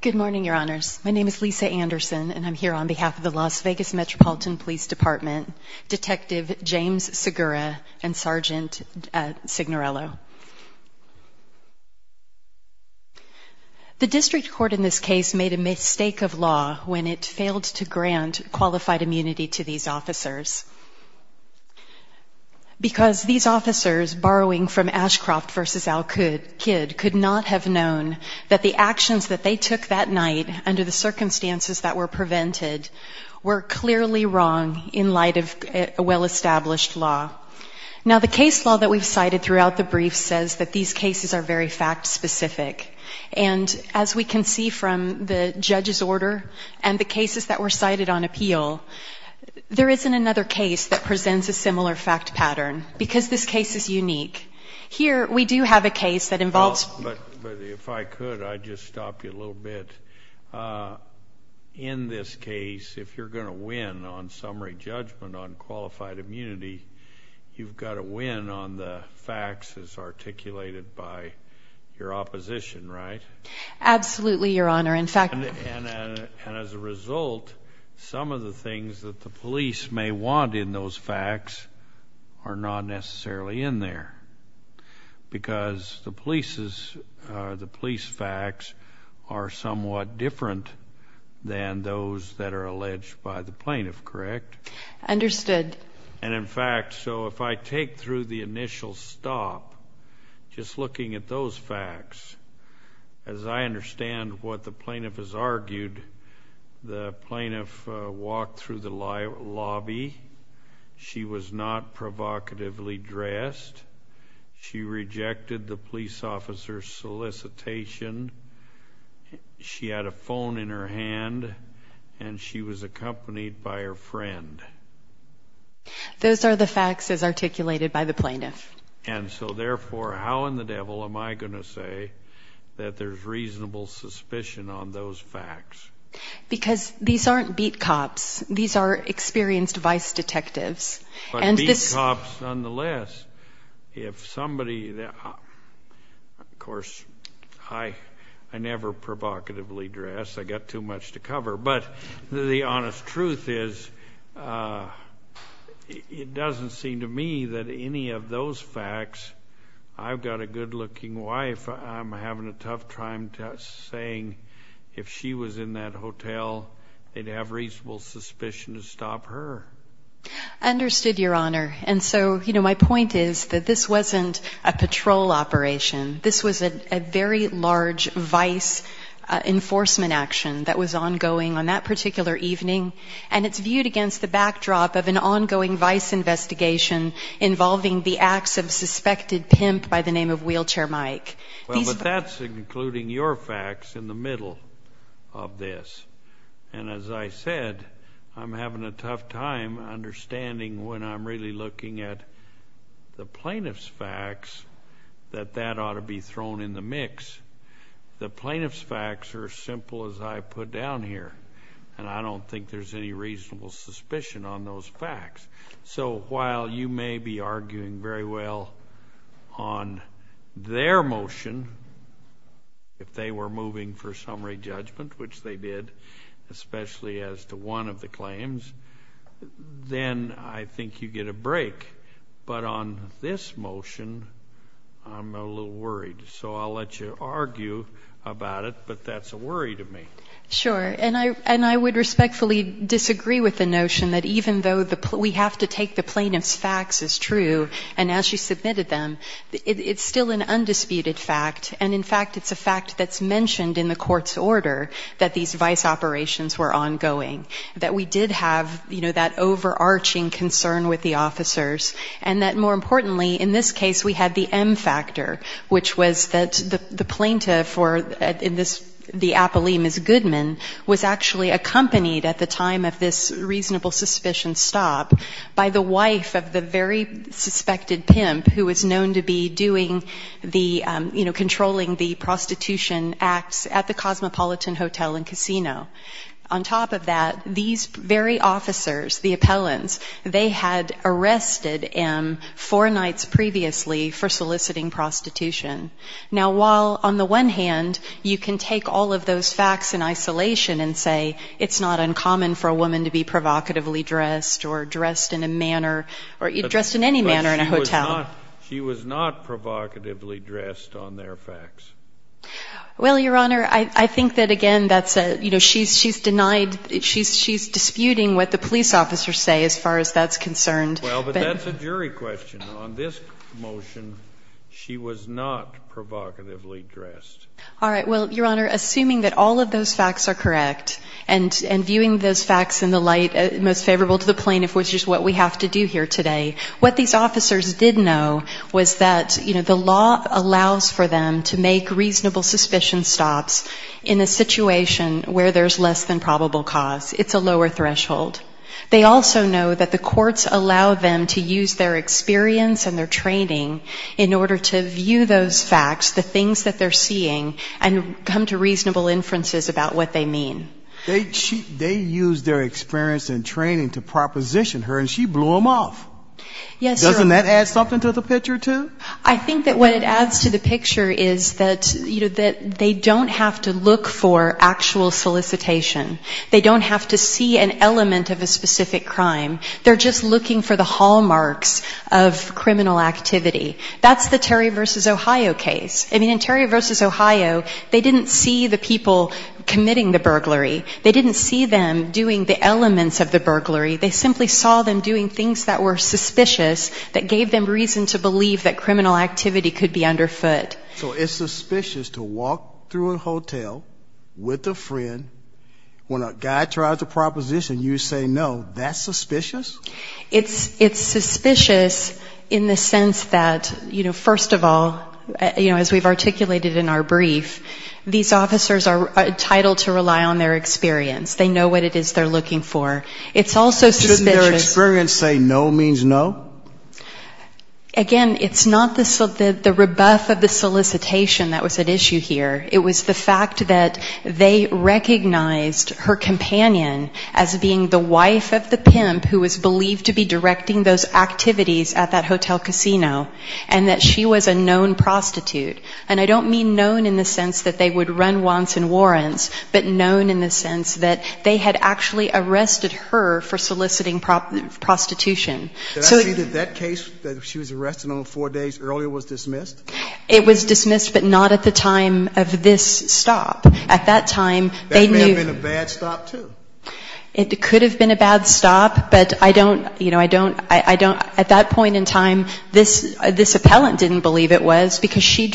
Good morning, Your Honors. My name is Lisa Anderson, and I'm here on behalf of the Las Vegas Metropolitan Police Department, Detective James Segura and Sergeant Signorello. The district court in this case made a mistake of law when it failed to grant qualified immunity to these officers because these officers, borrowing from Ashcroft v. Al Kidd, could not have known that the actions that they took that night under the circumstances that were prevented were clearly wrong in light of a well-established law. Now, the case law that we've cited throughout the brief says that these cases are very fact-specific, and as we can see from the case that presents a similar fact pattern, because this case is unique, here we do have a case that involves Well, but if I could, I'd just stop you a little bit. In this case, if you're going to win on summary judgment on qualified immunity, you've got to win on the facts as articulated by your opposition, right? Absolutely, Your Honor. In fact And as a result, some of the things that the police may want in those facts are not necessarily in there, because the police facts are somewhat different than those that are alleged by the plaintiff, correct? Understood. And in fact, so if I take through the initial stop, just looking at those facts, as I understand what the plaintiff has argued, the plaintiff walked through the lobby, she was not provocatively dressed, she rejected the police officer's solicitation, she had a phone in her hand, and she was accompanied by her friend. Those are the facts as articulated by the plaintiff. And so therefore, how in the devil am I going to say that there's reasonable suspicion on those facts? Because these aren't beat cops. These are experienced vice detectives. But beat cops, nonetheless, if somebody, of course, I never provocatively dress, I got too much to cover. But the honest truth is, it doesn't seem to me that any of those facts, I've got a good looking wife, I'm having a tough time saying if she was in that hotel, they'd have reasonable suspicion to stop her. Understood, Your Honor. And so, you know, my point is that this wasn't a patrol operation. This was a very large vice enforcement action that was ongoing on that particular evening, and it's viewed against the backdrop of an ongoing vice investigation involving the acts of suspected pimp by the name of Wheelchair Mike. Well, but that's including your facts in the middle of this. And as I said, I'm having a tough time understanding when I'm really looking at the plaintiff's facts, that that ought to be thrown in the mix. The plaintiff's facts are as simple as I put down here, and I don't think there's any reasonable suspicion on those facts. So while you may be arguing very well on their motion, if they were moving for summary judgment, which they did, especially as to one of the claims, then I think you get a break. But on this motion, I'm a little worried. So I'll let you argue about it, but that's a worry to me. Sure. And I would respectfully disagree with the notion that even though we have to take the plaintiff's facts as true, and as she submitted them, it's still an undisputed fact, and in fact it's a fact that's mentioned in the court's order that these vice operations were ongoing, that we did have, you know, that overarching concern with the officers, and that more importantly in this case we had the M factor, which was that the plaintiff or the appellee, Ms. Goodman, was actually accompanied at the time of this reasonable suspicion stop by the wife of the very suspected pimp who was known to be doing the, you know, controlling the prostitution acts at the Cosmopolitan Hotel and Casino. On top of that, these very officers, the appellants, they had arrested M four nights previously for soliciting prostitution. Now, while on the one hand you can take all of those facts in isolation and say it's not uncommon for a woman to be provocatively dressed or dressed in a manner or dressed in any manner in a hotel. But she was not provocatively dressed on their facts. Well, Your Honor, I think that, again, that's a, you know, she's denied, she's disputing what the police officers say as far as that's concerned. Well, but that's a jury question. On this motion, she was not provocatively dressed. All right. Well, Your Honor, assuming that all of those facts are correct, and viewing those facts in the light most favorable to the plaintiff, which is what we have to do here today, what these officers did know was that, you know, the law allows for them to make reasonable suspicion stops in a situation where there's less than probable cause. It's a lower threshold. They also know that the courts allow them to use their experience and their training in order to view those facts, the things that they're seeing, and come to reasonable inferences about what they mean. They use their experience and training to proposition her, and she blew them off. Yes, Your Honor. And that adds something to the picture, too? I think that what it adds to the picture is that, you know, that they don't have to look for actual solicitation. They don't have to see an element of a specific crime. They're just looking for the hallmarks of criminal activity. That's the Terry v. Ohio case. I mean, in Terry v. Ohio, they didn't see the people committing the burglary. They didn't see them doing the elements of the burglary. They simply saw them doing things that were suspicious, that gave them reason to believe that criminal activity could be underfoot. So it's suspicious to walk through a hotel with a friend, when a guy tries a proposition, you say no, that's suspicious? It's suspicious in the sense that, you know, first of all, you know, as we've articulated in our brief, these officers are also suspicious. Didn't their experience say no means no? Again, it's not the rebuff of the solicitation that was at issue here. It was the fact that they recognized her companion as being the wife of the pimp who was believed to be directing those activities at that hotel casino, and that she was a known prostitute. And I don't mean known in the sense that they would run wants and warrants, but known in the sense that they had actually arrested her for soliciting prostitution. So that case that she was arrested on four days earlier was dismissed? It was dismissed, but not at the time of this stop. At that time, they knew. That may have been a bad stop, too. It could have been a bad stop, but I don't, you know, I don't, at that point in time, this appellant didn't believe it was, because she was a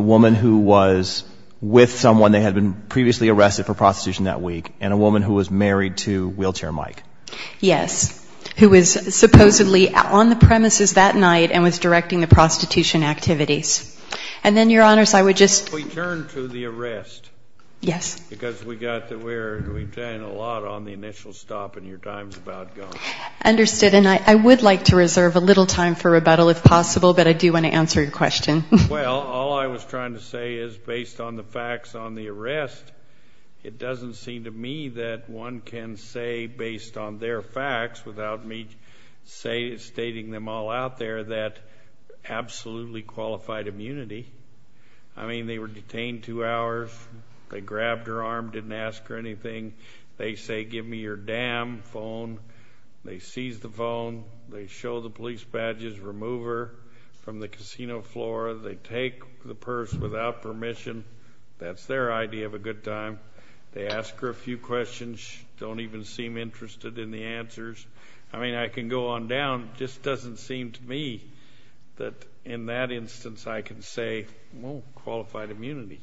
woman who was with someone that had been previously arrested for prostitution that week, and a woman who was married to wheelchair Mike. Yes, who was supposedly on the premises that night and was directing the prostitution activities. And then, Your Honors, I would like to reserve a little time for rebuttal, if possible, but I do want to answer your question. Well, all I was trying to say is, based on the facts on the arrest, it doesn't seem to me that one can say, based on their facts, without me stating them all out there, that absolutely qualified immunity. I mean, I don't think that's a good thing. I mean, they were detained two hours. They grabbed her arm, didn't ask her anything. They say, give me your damn phone. They seize the phone. They show the police badges, remove her from the casino floor. They take the purse without permission. That's their idea of a good time. They ask her a few questions, don't even seem interested in the answers. I mean, I can go on down. It just doesn't seem to me that, in that instance, I can say, well, qualified immunity.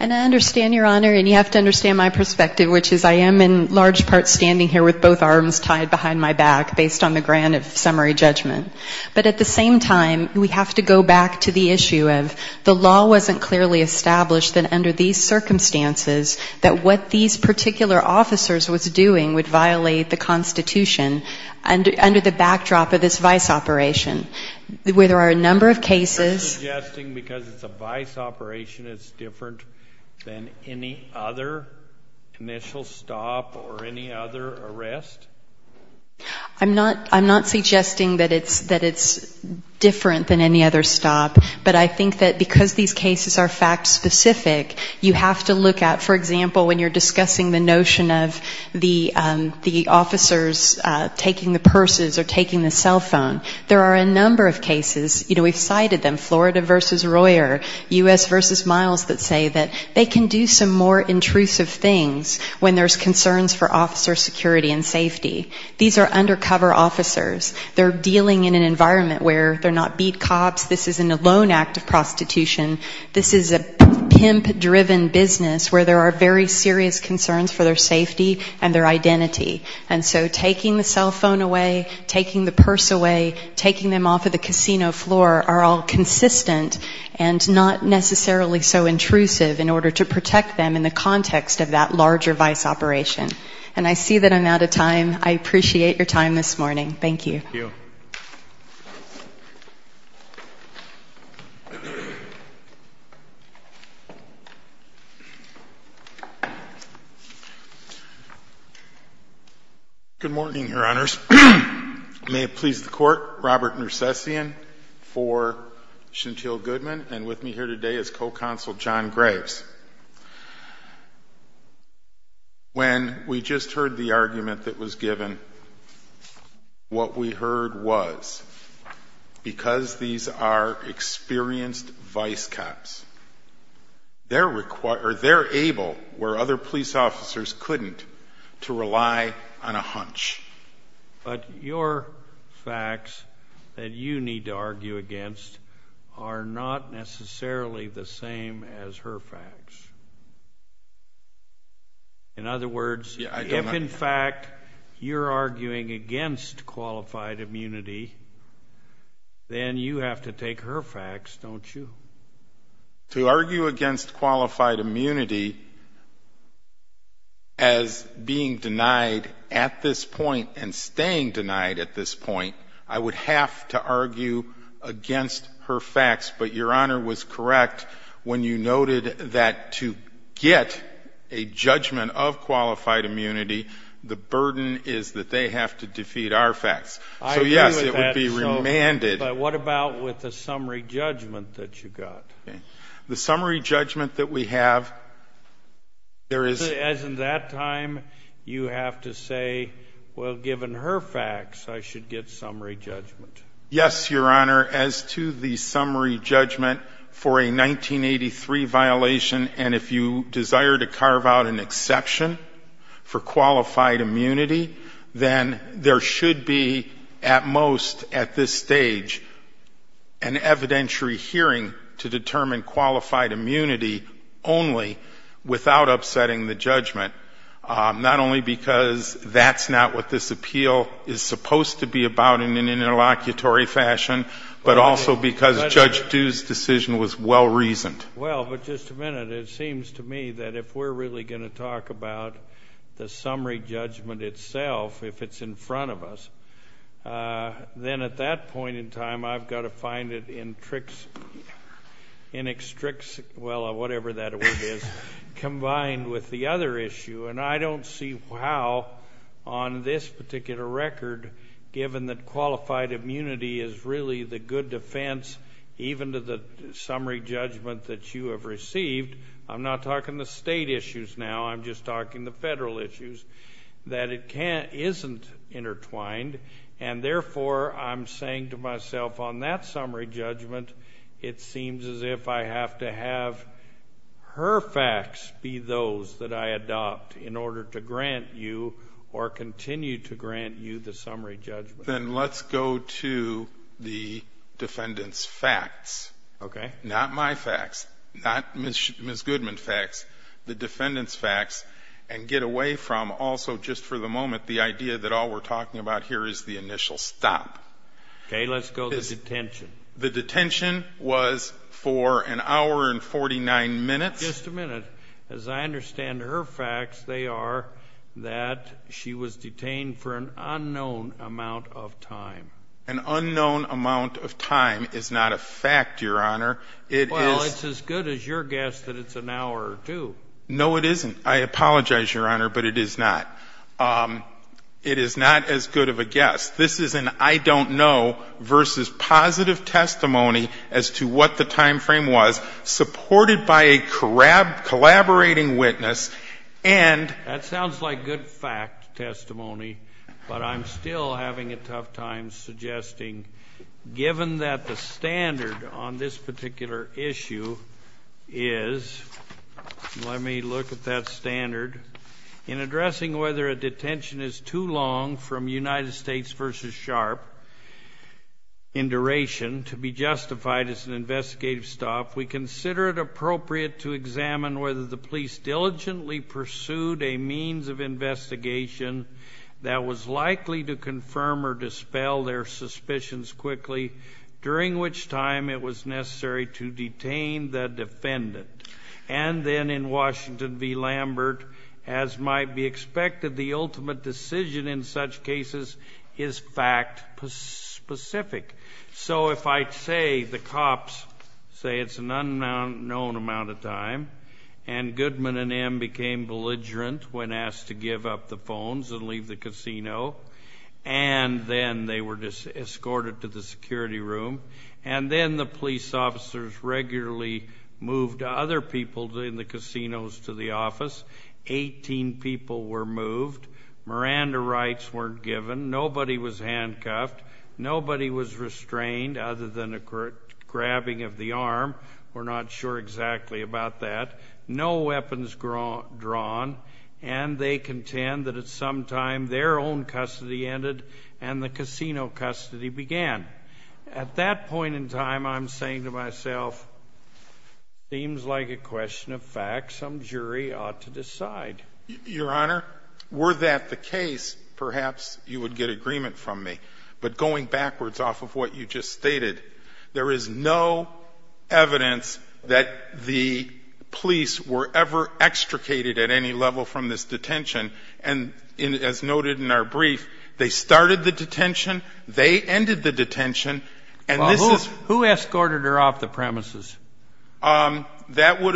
And I understand, Your Honor, and you have to understand my perspective, which is I am in large part standing here with both arms tied behind my back, based on the grant of summary judgment. But at the same time, we have to go back to the issue of the law wasn't clearly established that under these circumstances, that what these particular officers was doing would violate the Constitution, under the backdrop of this vice operation, where there are a number of cases. I'm just suggesting because it's a vice operation, it's different than any other initial stop or any other arrest? I'm not suggesting that it's different than any other stop, but I think that because these cases are fact specific, you have to look at, for example, when you're discussing the notion of the officers taking the purses or taking the cell phone. There are a number of cases, you know, we've cited them, Florida v. Royer, U.S. v. Miles that say that they can do some more intrusive things when there's concerns for officer security and safety. These are undercover officers. They're dealing in an environment where they're not beat cops, this isn't a lone act of prostitution, this is a pimp-driven business where there are very serious concerns for their safety and their identity. And so taking the cell phone away, taking the purse away, taking them off of the casino floor are all consistent and not necessarily so intrusive in order to protect them in the context of that larger vice operation. And I see that I'm out of time. I appreciate your time this morning. Thank you. Thank you. Good morning, Your Honors. May it please the Court, Robert Nersessian for Chantil Goodman and with me here today is co-counsel John Graves. When we just heard the argument that was given, what we heard was because these are experienced vice cops, they're able, where other police officers couldn't, to rely on a hunch. But your facts that you need to argue against are not necessarily the same as her facts. In other words, if in fact you're arguing against qualified immunity, then you have to take her facts, don't you? To argue against qualified immunity as being denied at this point and staying denied at this point, I would have to argue against her facts. I agree with that, but what about with the summary judgment that you got? As in that time, you have to say, well, given her facts, I should get summary judgment. Yes, Your Honor, as to the summary judgment for a 1983 violation, and if you desire to carve out an exception for qualified immunity, then there should be at most at this stage an evidentiary hearing to determine qualified immunity only without upsetting the judgment, not only because that's not what this appeal is supposed to be about in an interlocutor fashion, but also because Judge Dew's decision was well-reasoned. Well, but just a minute, it seems to me that if we're really going to talk about the summary judgment itself, if it's in front of us, then at that point in time, I've got to find it in tricks, in extrix, well, whatever that word is, combined with the other issue. And I don't see how on this particular record, given that qualified immunity is really the good defense, even to the summary judgment that you have received, I'm not talking the state issues now, I'm just talking the federal issues, that it isn't intertwined, and therefore, I'm saying to myself on that summary judgment, it seems as if I have to have her testify in order to grant you or continue to grant you the summary judgment. Then let's go to the defendant's facts, not my facts, not Ms. Goodman facts, the defendant's facts, and get away from also just for the moment the idea that all we're talking about here is the initial stop. Okay, let's go to detention. The detention was for an hour and 49 minutes. Just a minute. As I understand her facts, they are that she was detained for an unknown amount of time. An unknown amount of time is not a fact, Your Honor. Well, it's as good as your guess that it's an hour or two. No, it isn't. I apologize, Your Honor, but it is not. It is not as good of a guess. This is an I don't know versus positive testimony as to what the time frame was, supported by a collaborating witness, and That sounds like good fact testimony, but I'm still having a tough time suggesting, given that the standard on this particular issue is, let me look at that standard, in addressing whether a detention is too long from United States versus Sharpe, in duration, to be justified as an investigative stop, we consider it appropriate to examine whether the police diligently pursued a means of investigation that was likely to confirm or dispel their suspicions quickly, during which time it was necessary to detain the defendant, and then in Washington v. Lambert, as might be the case, to determine whether the time frame is fact-specific. So if I say the cops say it's an unknown amount of time, and Goodman and M. became belligerent when asked to give up the phones and leave the casino, and then they were escorted to the security room, and then the police officers regularly moved other people in the casinos to the office, 18 people were moved, Miranda rights weren't given, nobody was handcuffed, nobody was restrained, other than a grabbing of the arm, we're not sure exactly about that, no weapons drawn, and they contend that at some time their own custody ended, and the casino custody began. At that point in time, I'm saying to myself, seems like a question of time, and I'm not sure that I'm going to be able to answer that. And I think that's a question that, in fact, some jury ought to decide. Your Honor, were that the case, perhaps you would get agreement from me. But going backwards off of what you just stated, there is no evidence that the police were ever extricated at any level from this detention. And as noted in our testimony, the testimony by the case that was brought at that time was that Miranda was a member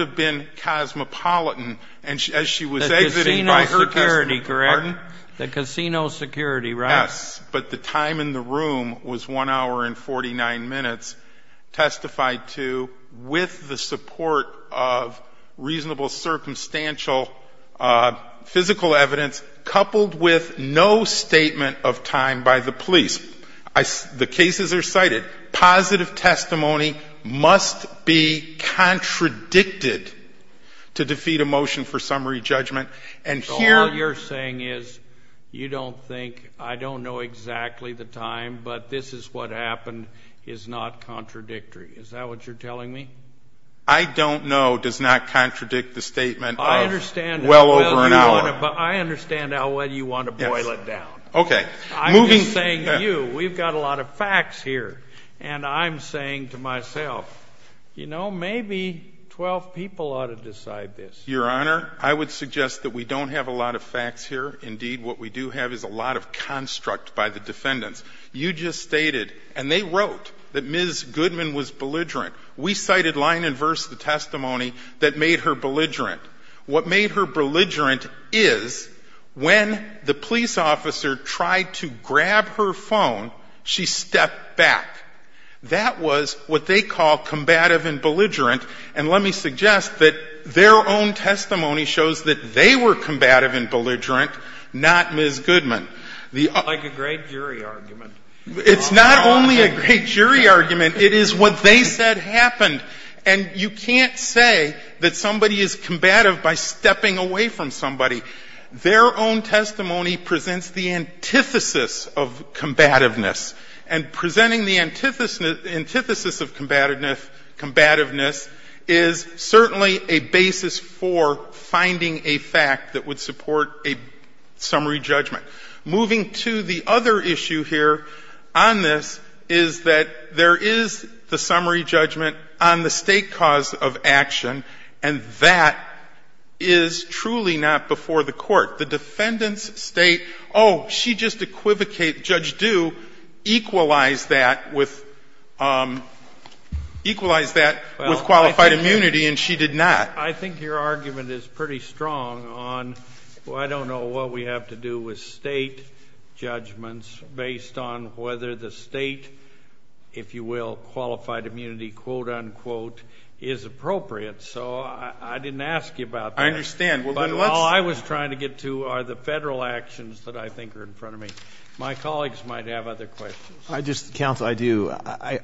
of the Cosmopolitan, and as she was exiting by her personal, the casino security, right? Yes, but the time in the room was one hour and 49 minutes, testified to with the support of reasonable circumstantial physical evidence, coupled with no statement of time by the police. The cases are cited. To defeat a motion for summary judgment, and here... So all you're saying is, you don't think, I don't know exactly the time, but this is what happened is not contradictory. Is that what you're telling me? I don't know does not contradict the statement of well over an hour. I understand how well you want to boil it down. Yes. Okay. I'm just saying to you, we've got a lot of facts here, and I'm saying to myself, you know, maybe 12 people ought to decide this. Your Honor, I would suggest that we don't have a lot of facts here. Indeed, what we do have is a lot of construct by the defendants. You just stated, and they wrote, that Ms. Goodman was belligerent. We cited line and verse the testimony that made her belligerent. What made her belligerent is when the police officer tried to grab her phone, she stepped back. That was what they call combative and belligerent. And you can't say that their own testimony shows that they were combative and belligerent, not Ms. Goodman. Like a great jury argument. It's not only a great jury argument. It is what they said happened. And you can't say that somebody is combative by stepping away from somebody. Their own testimony presents the antithesis of combativeness. And presenting the antithesis of combativeness is certainly unconstitutional. It is not a basis for finding a fact that would support a summary judgment. Moving to the other issue here on this is that there is the summary judgment on the state cause of action, and that is truly not before the court. The defendants state, oh, she just equivocated. Judge Due equalized that with qualified immunity, and she did not. I think your argument is pretty strong on, well, I don't know what we have to do with state judgments based on whether the state, if you will, qualified immunity, quote, unquote, is appropriate. So I didn't ask you about that. I understand. But all I was trying to get to are the federal actions that I think are in front of me. My colleagues might have other questions. I just, counsel, I do.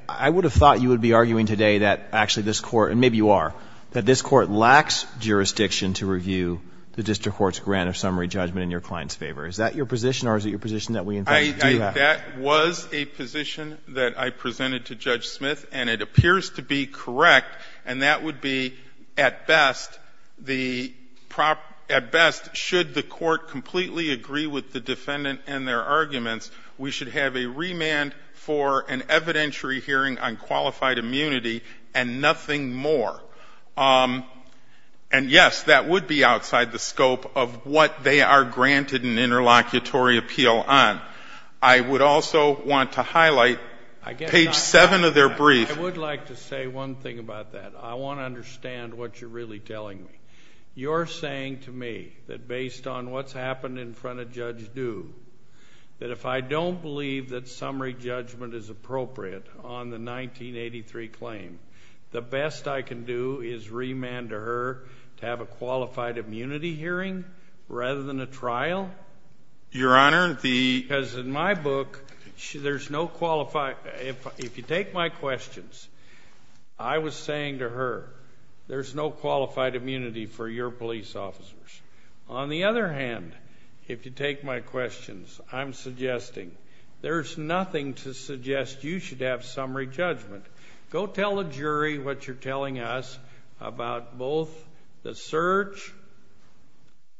I would have thought you would be arguing today that actually this court, and maybe you are, that this court lacks jurisdiction to review the district court's grant of summary judgment in your client's favor. Is that your position, or is it your position that we in fact do have? That was a position that I presented to Judge Smith, and it appears to be correct. And that would be, at best, the, at best, should the court completely agree with the defendant and their arguments, we should have a remand for an evidentiary hearing on qualified immunity and nothing more. And, yes, that would be outside the scope of what they are granted an interlocutory appeal on. I would also want to highlight page seven of their brief. I would like to say one thing about that. I want to understand what you're really telling me. You're saying to me that based on what's happened in front of Judge Du, that if I don't believe that summary judgment is appropriate on the 1983 claim, the best I can do is remand her to have a qualified immunity hearing rather than a trial? Your Honor, the Because in my book, there's no qualified, if you take my questions, I was saying to her, there's no qualified immunity for your police officers. On the other hand, if you take my questions, I'm suggesting there's nothing to suggest you should have summary judgment. Go tell the jury what you're telling us about both the search,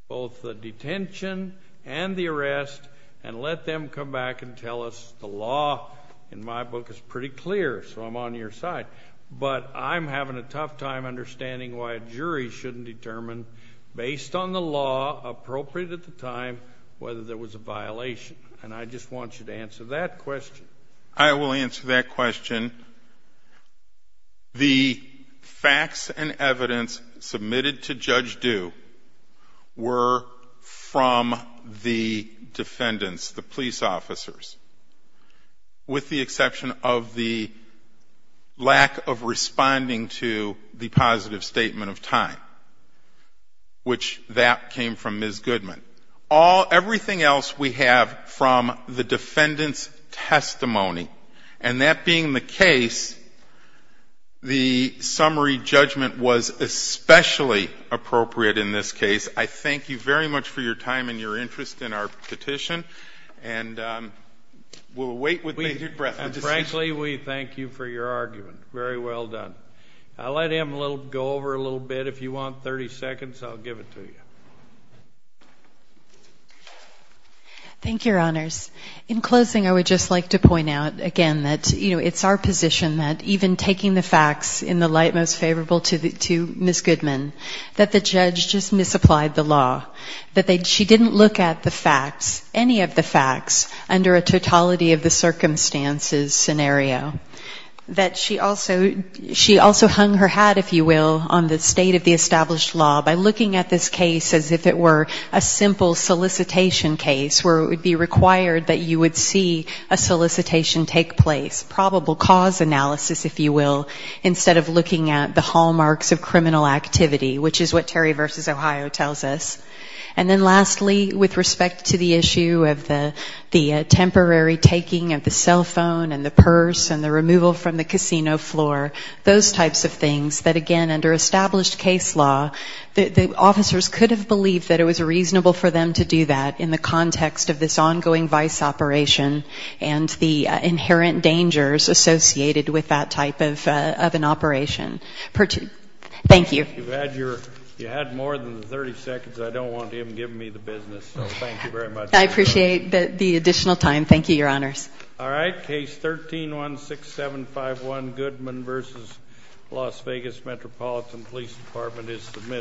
both the detention and the arrest, and let them come back and tell us the law in my book is pretty clear, so I'm on your side. But I'm having a tough time understanding why a jury shouldn't determine, based on the law appropriate at the time, whether there was a violation. And I just want you to answer that question. I will answer that question. The facts and evidence submitted to Judge Du were from the defendants, the police officers, the jury, and the jury's lack of responding to the positive statement of time, which that came from Ms. Goodman. Everything else we have from the defendant's testimony, and that being the case, the summary judgment was especially appropriate in this case. I thank you very much for your time and your interest in our petition, and we'll wait with major breath until we get back to you. Frankly, we thank you for your argument. Very well done. I'll let him go over a little bit. If you want 30 seconds, I'll give it to you. Thank you, Your Honors. In closing, I would just like to point out again that, you know, it's our position that even taking the facts in the light most favorable to Ms. Goodman, that the judge just misapplied the law, that she didn't look at the facts, any of the facts, under a totality of the circumstances scenario. That she also hung her hat, if you will, on the state of the established law by looking at this case as if it were a simple solicitation case where it would be required that you would see a solicitation take place, probable cause analysis, if you will, instead of looking at the hallmarks of criminal activity, which is what Terry v. Ohio tells us. And then lastly, with respect to the issue of the temporary taking of the cell phone and the purse and the removal from the casino floor, those types of things that, again, under established case law, the officers could have believed that it was reasonable for them to do that in the context of this ongoing vice operation and the inherent dangers associated with that type of an operation. Thank you. Thank you. You had more than 30 seconds. I don't want him giving me the business, so thank you very much. I appreciate the additional time. Thank you, Your Honors. All right. Case 13-16751, Goodman v. Las Vegas Metropolitan Police Department is submitted.